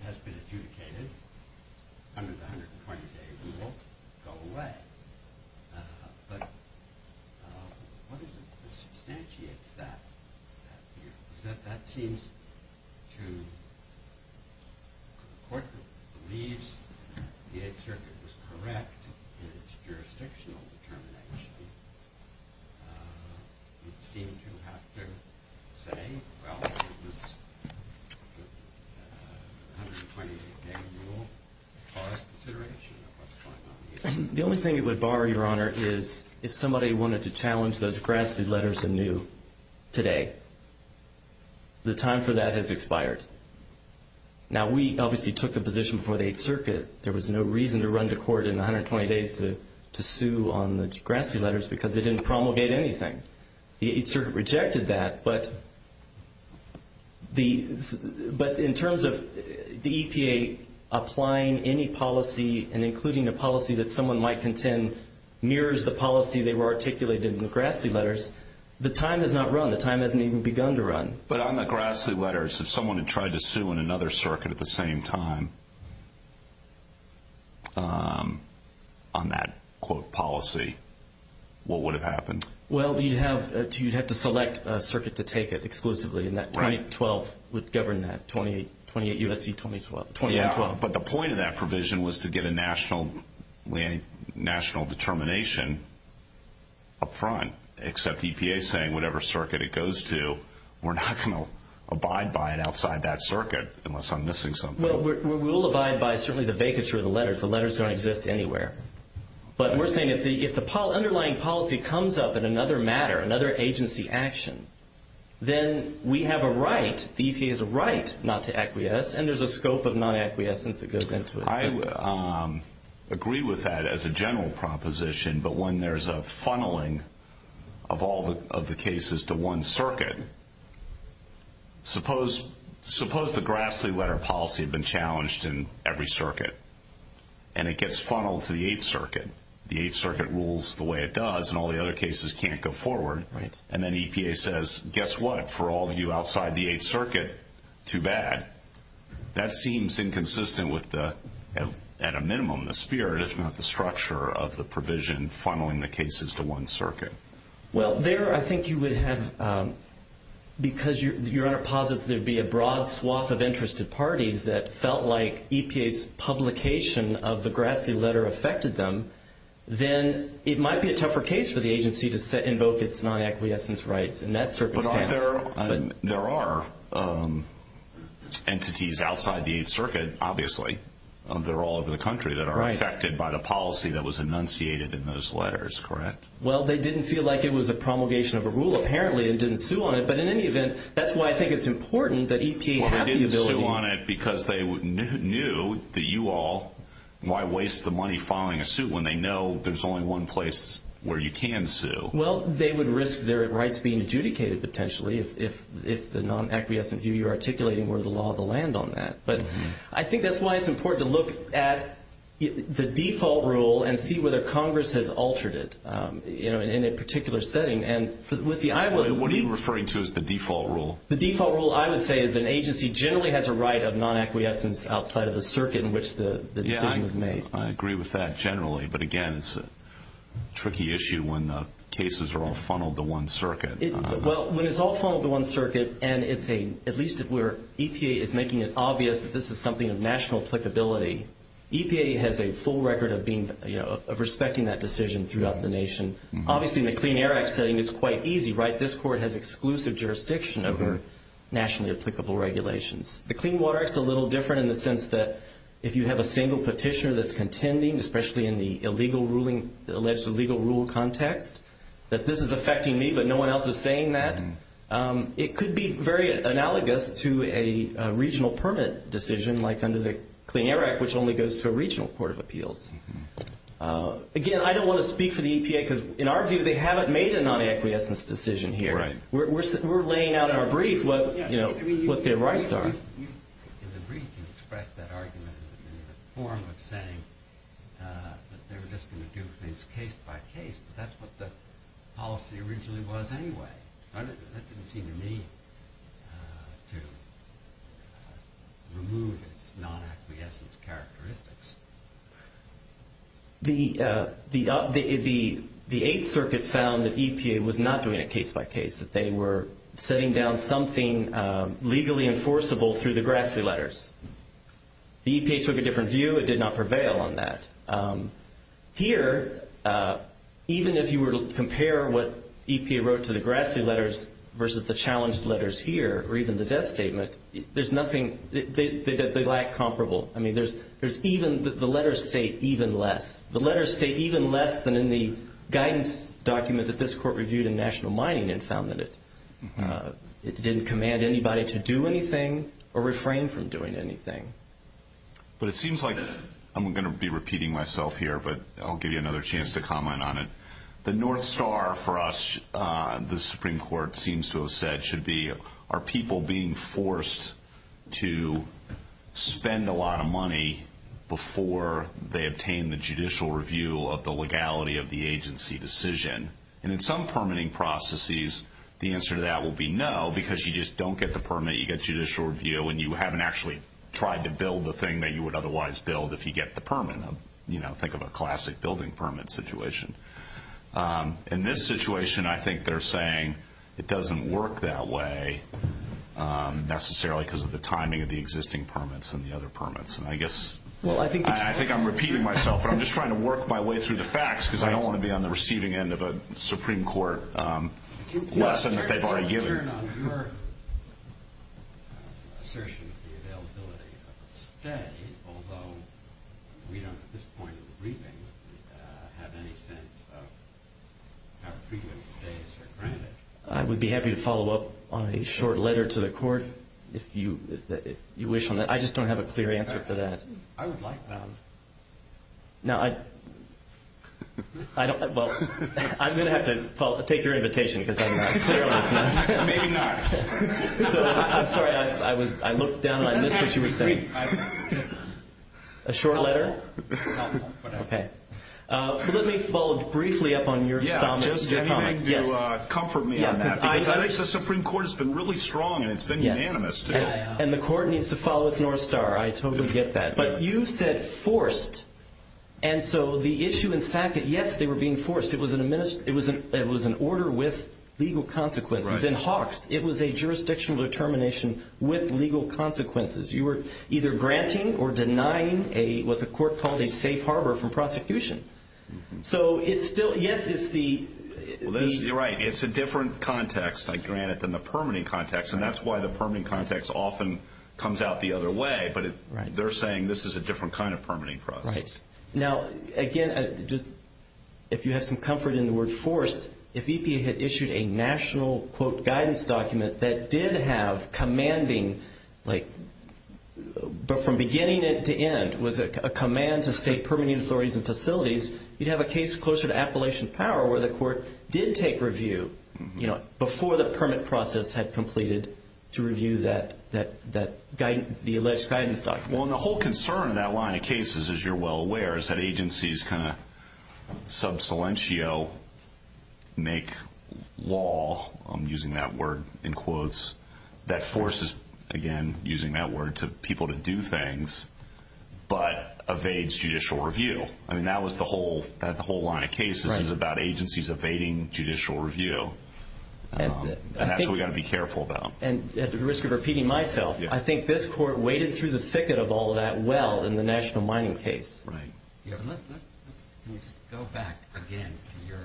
has been adjudicated under the 120-day rule, go away. But what substantiates that view? Is that that seems to the court that believes the Eighth Circuit was correct in its jurisdictional determination, it seemed to have to say, well, this 120-day rule caused consideration of what's going on here. The only thing it would bar, Your Honor, is if somebody wanted to challenge those grassroot letters anew today. The time for that has expired. Now, we obviously took the position before the Eighth Circuit there was no reason to run to court in the 120 days to sue on the grassroot letters because they didn't promulgate anything. The Eighth Circuit rejected that, but in terms of the EPA applying any policy and including a policy that someone might contend mirrors the policy they were articulated in the grassroot letters, the time has not run. The time hasn't even begun to run. But on the grassroot letters, if someone had tried to sue in another circuit at the same time on that, quote, policy, what would have happened? Well, you'd have to select a circuit to take it exclusively, and that 2012 would govern that, 28 U.S.C. 2012. Yeah, but the point of that provision was to get a national determination up front, except EPA saying whatever circuit it goes to, we're not going to abide by it outside that circuit unless I'm missing something. Well, we will abide by certainly the vacature of the letters. The letters don't exist anywhere. But we're saying if the underlying policy comes up in another matter, another agency action, then we have a right, the EPA has a right not to acquiesce, and there's a scope of non-acquiescence that goes into it. I agree with that as a general proposition, but when there's a funneling of all of the cases to one circuit, suppose the grassroot letter policy had been challenged in every circuit and it gets funneled to the Eighth Circuit, the Eighth Circuit rules the way it does and all the other cases can't go forward, and then EPA says, guess what, for all of you outside the Eighth Circuit, too bad. That seems inconsistent with, at a minimum, the spirit, if not the structure, of the provision funneling the cases to one circuit. Well, there I think you would have, because your Honor posits there'd be a broad swath of interested parties that felt like EPA's publication of the Grassley letter affected them, then it might be a tougher case for the agency to invoke its non-acquiescence rights in that circumstance. But there are entities outside the Eighth Circuit, obviously, that are all over the country that are affected by the policy that was enunciated in those letters, correct? Well, they didn't feel like it was a promulgation of a rule, apparently, and didn't sue on it, but in any event, that's why I think it's important that EPA have the ability to sue because they knew that you all, why waste the money filing a suit when they know there's only one place where you can sue? Well, they would risk their rights being adjudicated, potentially, if the non-acquiescent view you're articulating were the law of the land on that. But I think that's why it's important to look at the default rule and see whether Congress has altered it in a particular setting. What are you referring to as the default rule? The default rule, I would say, is that an agency generally has a right of non-acquiescence outside of the circuit in which the decision was made. I agree with that generally, but again, it's a tricky issue when the cases are all funneled to one circuit. Well, when it's all funneled to one circuit and it's a, at least if we're, EPA is making it obvious that this is something of national applicability, EPA has a full record of respecting that decision throughout the nation. Obviously, in the Clean Air Act setting, it's quite easy, right? This court has exclusive jurisdiction over nationally applicable regulations. The Clean Water Act is a little different in the sense that if you have a single petitioner that's contending, especially in the alleged illegal rule context, that this is affecting me but no one else is saying that. It could be very analogous to a regional permit decision, like under the Clean Air Act, Again, I don't want to speak for the EPA because, in our view, they haven't made a non-acquiescence decision here. We're laying out in our brief what their rights are. In the brief, you expressed that argument in the form of saying that they were just going to do things case by case, but that's what the policy originally was anyway. That didn't seem to me to remove its non-acquiescence characteristics. The Eighth Circuit found that EPA was not doing it case by case, that they were setting down something legally enforceable through the Grassley letters. The EPA took a different view. It did not prevail on that. Here, even if you were to compare what EPA wrote to the Grassley letters versus the challenged letters here, or even the death statement, they lack comparable. The letters state even less than in the guidance document that this court reviewed in National Mining and found that it didn't command anybody to do anything or refrain from doing anything. It seems like, I'm going to be repeating myself here, but I'll give you another chance to comment on it. The North Star for us, the Supreme Court seems to have said, should be, are people being forced to spend a lot of money before they obtain the judicial review of the legality of the agency decision? In some permitting processes, the answer to that will be no because you just don't get the permit. You get judicial review and you haven't actually tried to build the thing that you would otherwise build if you get the permit. Think of a classic building permit situation. In this situation, I think they're saying it doesn't work that way necessarily because of the timing of the existing permits and the other permits. I think I'm repeating myself, but I'm just trying to work my way through the facts because I don't want to be on the receiving end of a Supreme Court lesson that they've already given. Assertion of the availability of a stay, although we don't at this point in the briefing have any sense of how frequent stays are granted. I would be happy to follow up on a short letter to the court if you wish on that. I just don't have a clear answer for that. I would like that. Now, I don't, well, I'm going to have to take your invitation because I'm clearly not. Maybe not. I'm sorry. I looked down and I missed what you were saying. A short letter? Okay. Let me follow briefly up on your comments. Just to comfort me on that because I think the Supreme Court has been really strong and it's been unanimous. And the court needs to follow its north star. I totally get that. But you said forced. And so the issue in Sackett, yes, they were being forced. It was an order with legal consequences. In Hawks, it was a jurisdictional determination with legal consequences. You were either granting or denying what the court called a safe harbor from prosecution. So it's still, yes, it's the. You're right. It's a different context, I grant it, than the permitting context. And that's why the permitting context often comes out the other way. But they're saying this is a different kind of permitting process. Right. Now, again, if you have some comfort in the word forced, if EPA had issued a national, quote, guidance document that did have commanding, like, but from beginning to end, was a command to state permitting authorities and facilities, you'd have a case closer to Appalachian Power where the court did take review, you know, before the permit process had completed to review the alleged guidance document. Well, and the whole concern in that line of cases, as you're well aware, is that agencies kind of sub silentio make law, I'm using that word in quotes, that forces, again, using that word, people to do things, but evades judicial review. I mean, that was the whole line of cases is about agencies evading judicial review. And that's what we've got to be careful about. And at the risk of repeating myself, I think this court waded through the thicket of all of that well in the national mining case. Right. Can you just go back again to your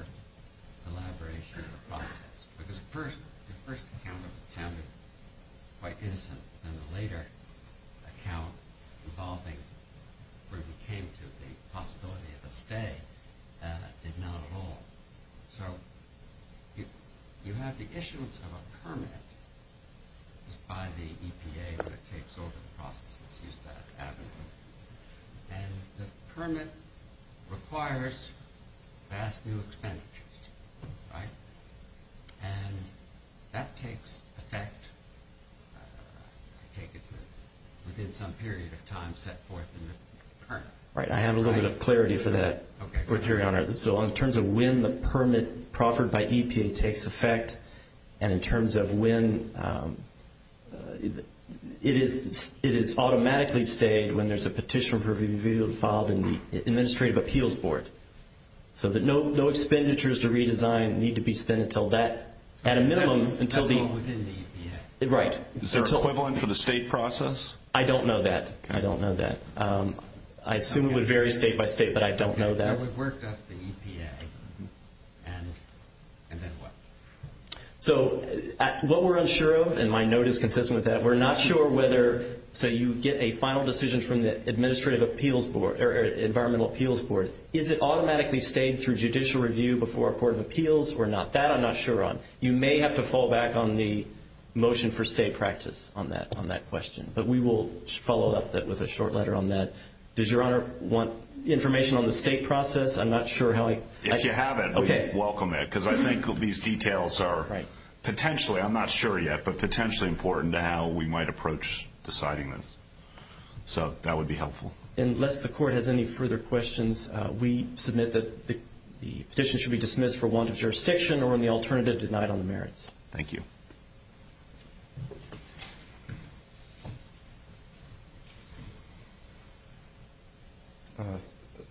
elaboration of the process? Because the first account of it sounded quite innocent, and the later account involving where we came to the possibility of a stay did not at all. So you have the issuance of a permit by the EPA, but it takes over the process to use that avenue. And the permit requires vast new expenditures, right? And that takes effect, I take it, within some period of time set forth in the permit. Right. I have a little bit of clarity for that, Your Honor. So in terms of when the permit proffered by EPA takes effect, and in terms of when it is automatically stayed when there's a petition for review filed in the Administrative Appeals Board, so that no expenditures to redesign need to be spent until that, at a minimum, until the- That's all within the EPA. Right. Is there equivalent for the state process? I don't know that. I don't know that. I assume it would vary state by state, but I don't know that. Well, we've worked up the EPA, and then what? So what we're unsure of, and my note is consistent with that, we're not sure whether, say, you get a final decision from the Administrative Appeals Board or Environmental Appeals Board, is it automatically stayed through judicial review before a court of appeals or not? That I'm not sure on. You may have to fall back on the motion for stay practice on that question. But we will follow up with a short letter on that. Does Your Honor want information on the state process? I'm not sure how I- If you have it, we welcome it. Okay. Because I think these details are potentially, I'm not sure yet, but potentially important to how we might approach deciding this. So that would be helpful. Unless the court has any further questions, we submit that the petition should be dismissed for want of jurisdiction or in the alternative denied on the merits. Thank you.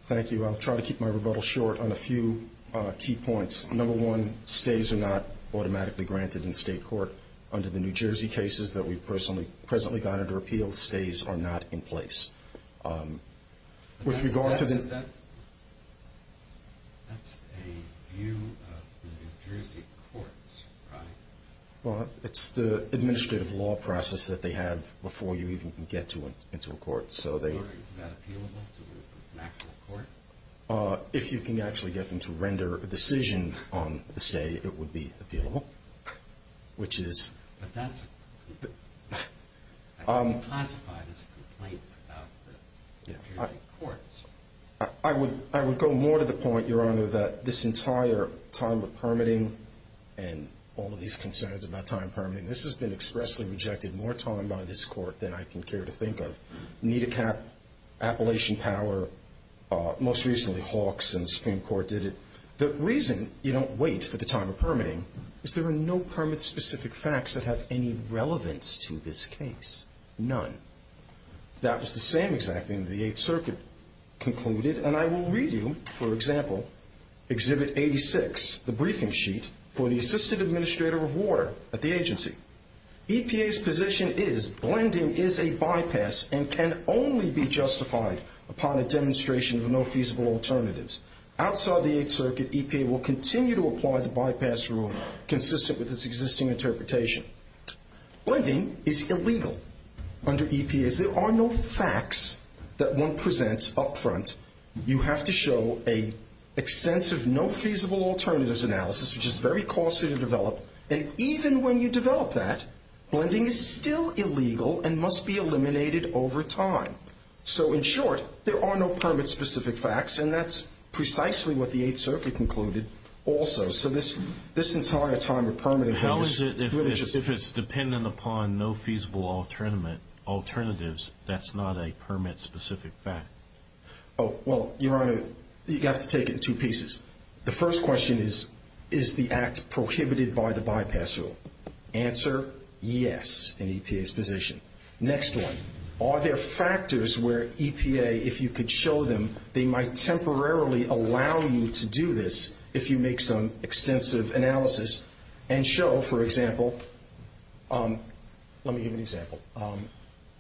Thank you. I'll try to keep my rebuttal short on a few key points. Number one, stays are not automatically granted in state court. Under the New Jersey cases that we've presently got under appeal, stays are not in place. With regard to the- That's a view of the New Jersey courts, right? Well, it's the administrative law process that they have before you even get into a court. So they- Is that appealable to an actual court? If you can actually get them to render a decision on the stay, it would be appealable, which is- But that's- I can't classify this complaint without the New Jersey courts. I would go more to the point, Your Honor, that this entire time of permitting and all of these concerns about time permitting, this has been expressly rejected more time by this court than I can care to think of. NIDACAP, Appalachian Power, most recently Hawks and Supreme Court did it. The reason you don't wait for the time of permitting is there are no permit-specific facts that have any relevance to this case, none. That was the same exact thing that the Eighth Circuit concluded, and I will read you, for example, Exhibit 86, the briefing sheet for the Assistant Administrator of Water at the agency. EPA's position is blending is a bypass and can only be justified upon a demonstration of no feasible alternatives. Outside the Eighth Circuit, EPA will continue to apply the bypass rule, consistent with its existing interpretation. Blending is illegal under EPA. There are no facts that one presents up front. You have to show an extensive no feasible alternatives analysis, which is very costly to develop, and even when you develop that, blending is still illegal and must be eliminated over time. So in short, there are no permit-specific facts, and that's precisely what the Eighth Circuit concluded also. So this entire time of permitting is glitches. How is it if it's dependent upon no feasible alternatives, that's not a permit-specific fact? Oh, well, Your Honor, you have to take it in two pieces. The first question is, is the act prohibited by the bypass rule? Answer, yes, in EPA's position. Next one, are there factors where EPA, if you could show them, they might temporarily allow you to do this if you make some extensive analysis and show, for example, let me give you an example.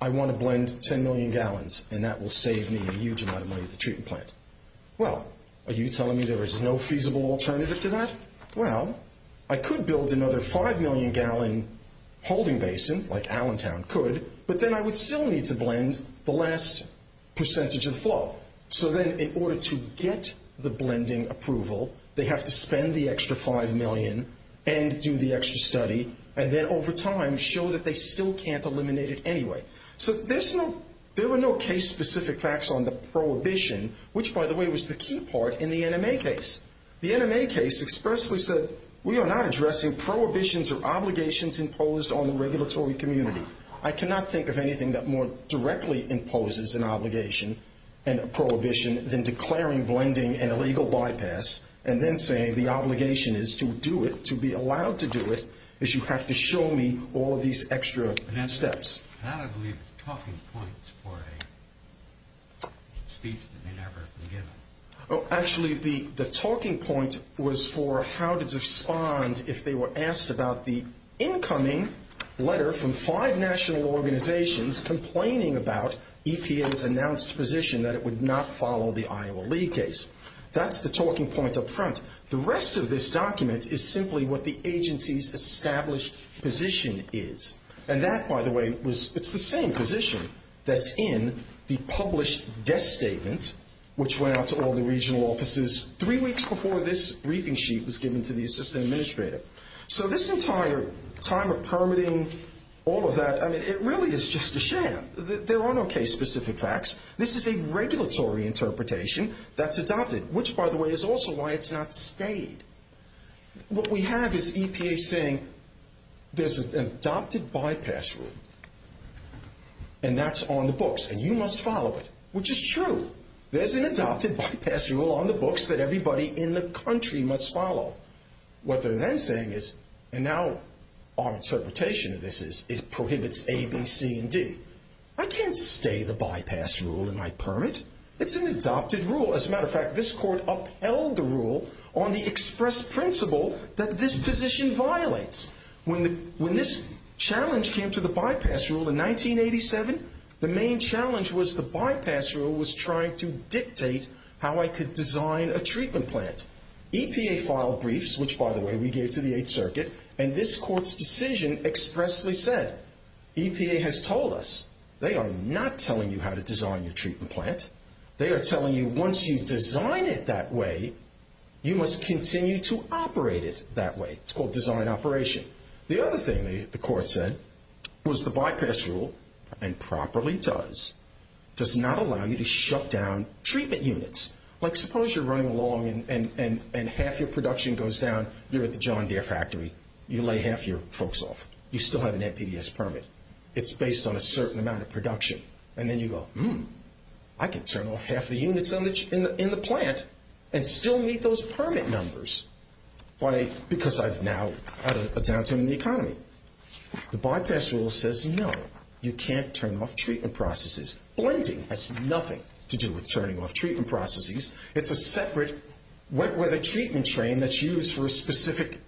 I want to blend 10 million gallons, and that will save me a huge amount of money at the treatment plant. Well, are you telling me there is no feasible alternative to that? Well, I could build another 5 million gallon holding basin, like Allentown could, but then I would still need to blend the last percentage of the flow. So then in order to get the blending approval, they have to spend the extra 5 million and do the extra study, and then over time show that they still can't eliminate it anyway. So there were no case-specific facts on the prohibition, which, by the way, was the key part in the NMA case. The NMA case expressly said, we are not addressing prohibitions or obligations imposed on the regulatory community. I cannot think of anything that more directly imposes an obligation and a prohibition than declaring blending an illegal bypass and then saying the obligation is to do it, to be allowed to do it, is you have to show me all these extra steps. That, I believe, is talking points for a speech that may never be given. Actually, the talking point was for how to respond if they were asked about the incoming letter from five national organizations complaining about EPA's announced position that it would not follow the Iowa League case. That's the talking point up front. The rest of this document is simply what the agency's established position is. And that, by the way, it's the same position that's in the published death statement, which went out to all the regional offices three weeks before this briefing sheet was given to the assistant administrator. So this entire time of permitting, all of that, I mean, it really is just a sham. There are no case-specific facts. This is a regulatory interpretation that's adopted, which, by the way, is also why it's not stayed. What we have is EPA saying there's an adopted bypass rule, and that's on the books, and you must follow it, which is true. There's an adopted bypass rule on the books that everybody in the country must follow. What they're then saying is, and now our interpretation of this is it prohibits A, B, C, and D. I can't stay the bypass rule in my permit. It's an adopted rule. As a matter of fact, this court upheld the rule on the express principle that this position violates. When this challenge came to the bypass rule in 1987, the main challenge was the bypass rule was trying to dictate how I could design a treatment plant. EPA filed briefs, which, by the way, we gave to the Eighth Circuit, and this court's decision expressly said, EPA has told us they are not telling you how to design your treatment plant. They are telling you once you design it that way, you must continue to operate it that way. It's called design operation. The other thing the court said was the bypass rule, and properly does, does not allow you to shut down treatment units. Like, suppose you're running along and half your production goes down. You're at the John Deere factory. You lay half your folks off. You still have an NPDES permit. It's based on a certain amount of production. And then you go, hmm, I can turn off half the units in the plant and still meet those permit numbers. Why? Because I've now had a downturn in the economy. The bypass rule says, no, you can't turn off treatment processes. Blending has nothing to do with turning off treatment processes. It's a separate wet weather treatment train that's used for a specific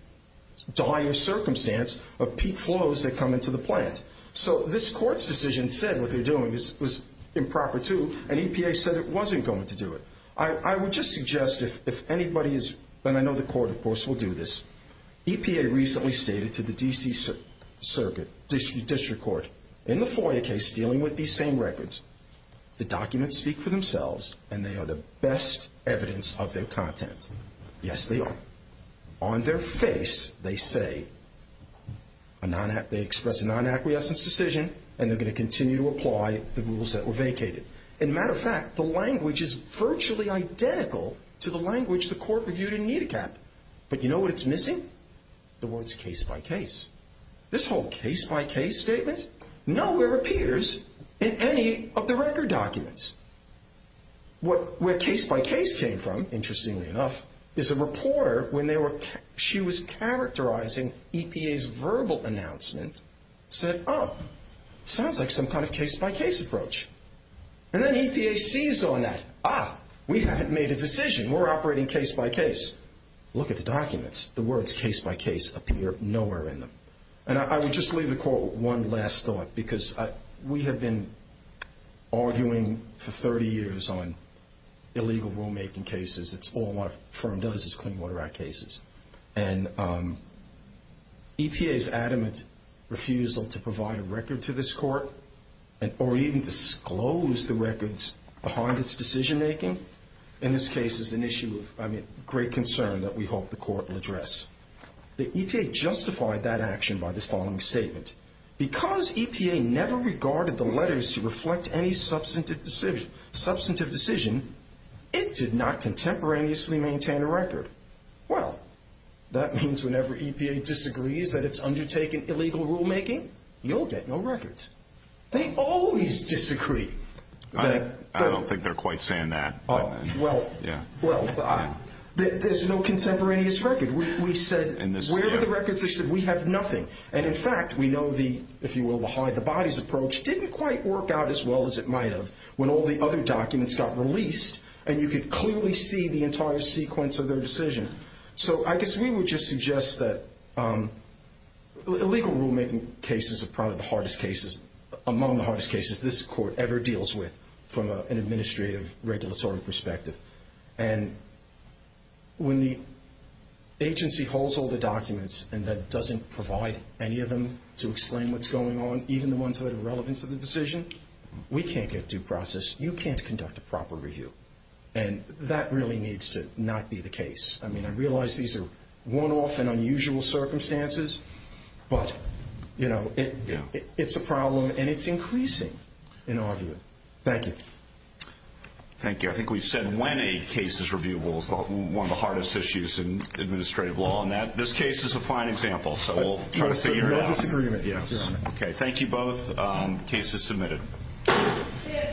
dire circumstance of peak flows that come into the plant. So this court's decision said what they're doing was improper, too, and EPA said it wasn't going to do it. I would just suggest if anybody is, and I know the court, of course, will do this. EPA recently stated to the D.C. District Court in the FOIA case dealing with these same records, the documents speak for themselves and they are the best evidence of their content. Yes, they are. On their face they say they expressed a non-acquiescence decision and they're going to continue to apply the rules that were vacated. As a matter of fact, the language is virtually identical to the language the court reviewed in NIDACAP. But you know what it's missing? The words case-by-case. This whole case-by-case statement nowhere appears in any of the record documents. Where case-by-case came from, interestingly enough, is a reporter, when she was characterizing EPA's verbal announcement, said, oh, sounds like some kind of case-by-case approach. And then EPA seized on that. Ah, we haven't made a decision. We're operating case-by-case. Look at the documents. The words case-by-case appear nowhere in them. And I would just leave the court one last thought, because we have been arguing for 30 years on illegal rulemaking cases. It's all our firm does is clean water our cases. And EPA's adamant refusal to provide a record to this court or even disclose the records behind its decision-making, in this case is an issue of great concern that we hope the court will address. The EPA justified that action by this following statement. Because EPA never regarded the letters to reflect any substantive decision, it did not contemporaneously maintain a record. Well, that means whenever EPA disagrees that it's undertaken illegal rulemaking, you'll get no records. They always disagree. I don't think they're quite saying that. Well, there's no contemporaneous record. We said, where are the records? They said, we have nothing. And, in fact, we know the, if you will, the hide-the-bodies approach didn't quite work out as well as it might have when all the other documents got released and you could clearly see the entire sequence of their decision. So I guess we would just suggest that illegal rulemaking cases are probably the hardest cases, among the hardest cases this court ever deals with from an administrative regulatory perspective. And when the agency holds all the documents and then doesn't provide any of them to explain what's going on, even the ones that are relevant to the decision, we can't get due process. You can't conduct a proper review. And that really needs to not be the case. I mean, I realize these are one-off and unusual circumstances, but, you know, it's a problem and it's increasing in argument. Thank you. Thank you. I think we've said when a case is reviewable is one of the hardest issues in administrative law. And this case is a fine example. So we'll try to figure it out. That's a disagreement. Yes. Okay. Thank you both. Case is submitted.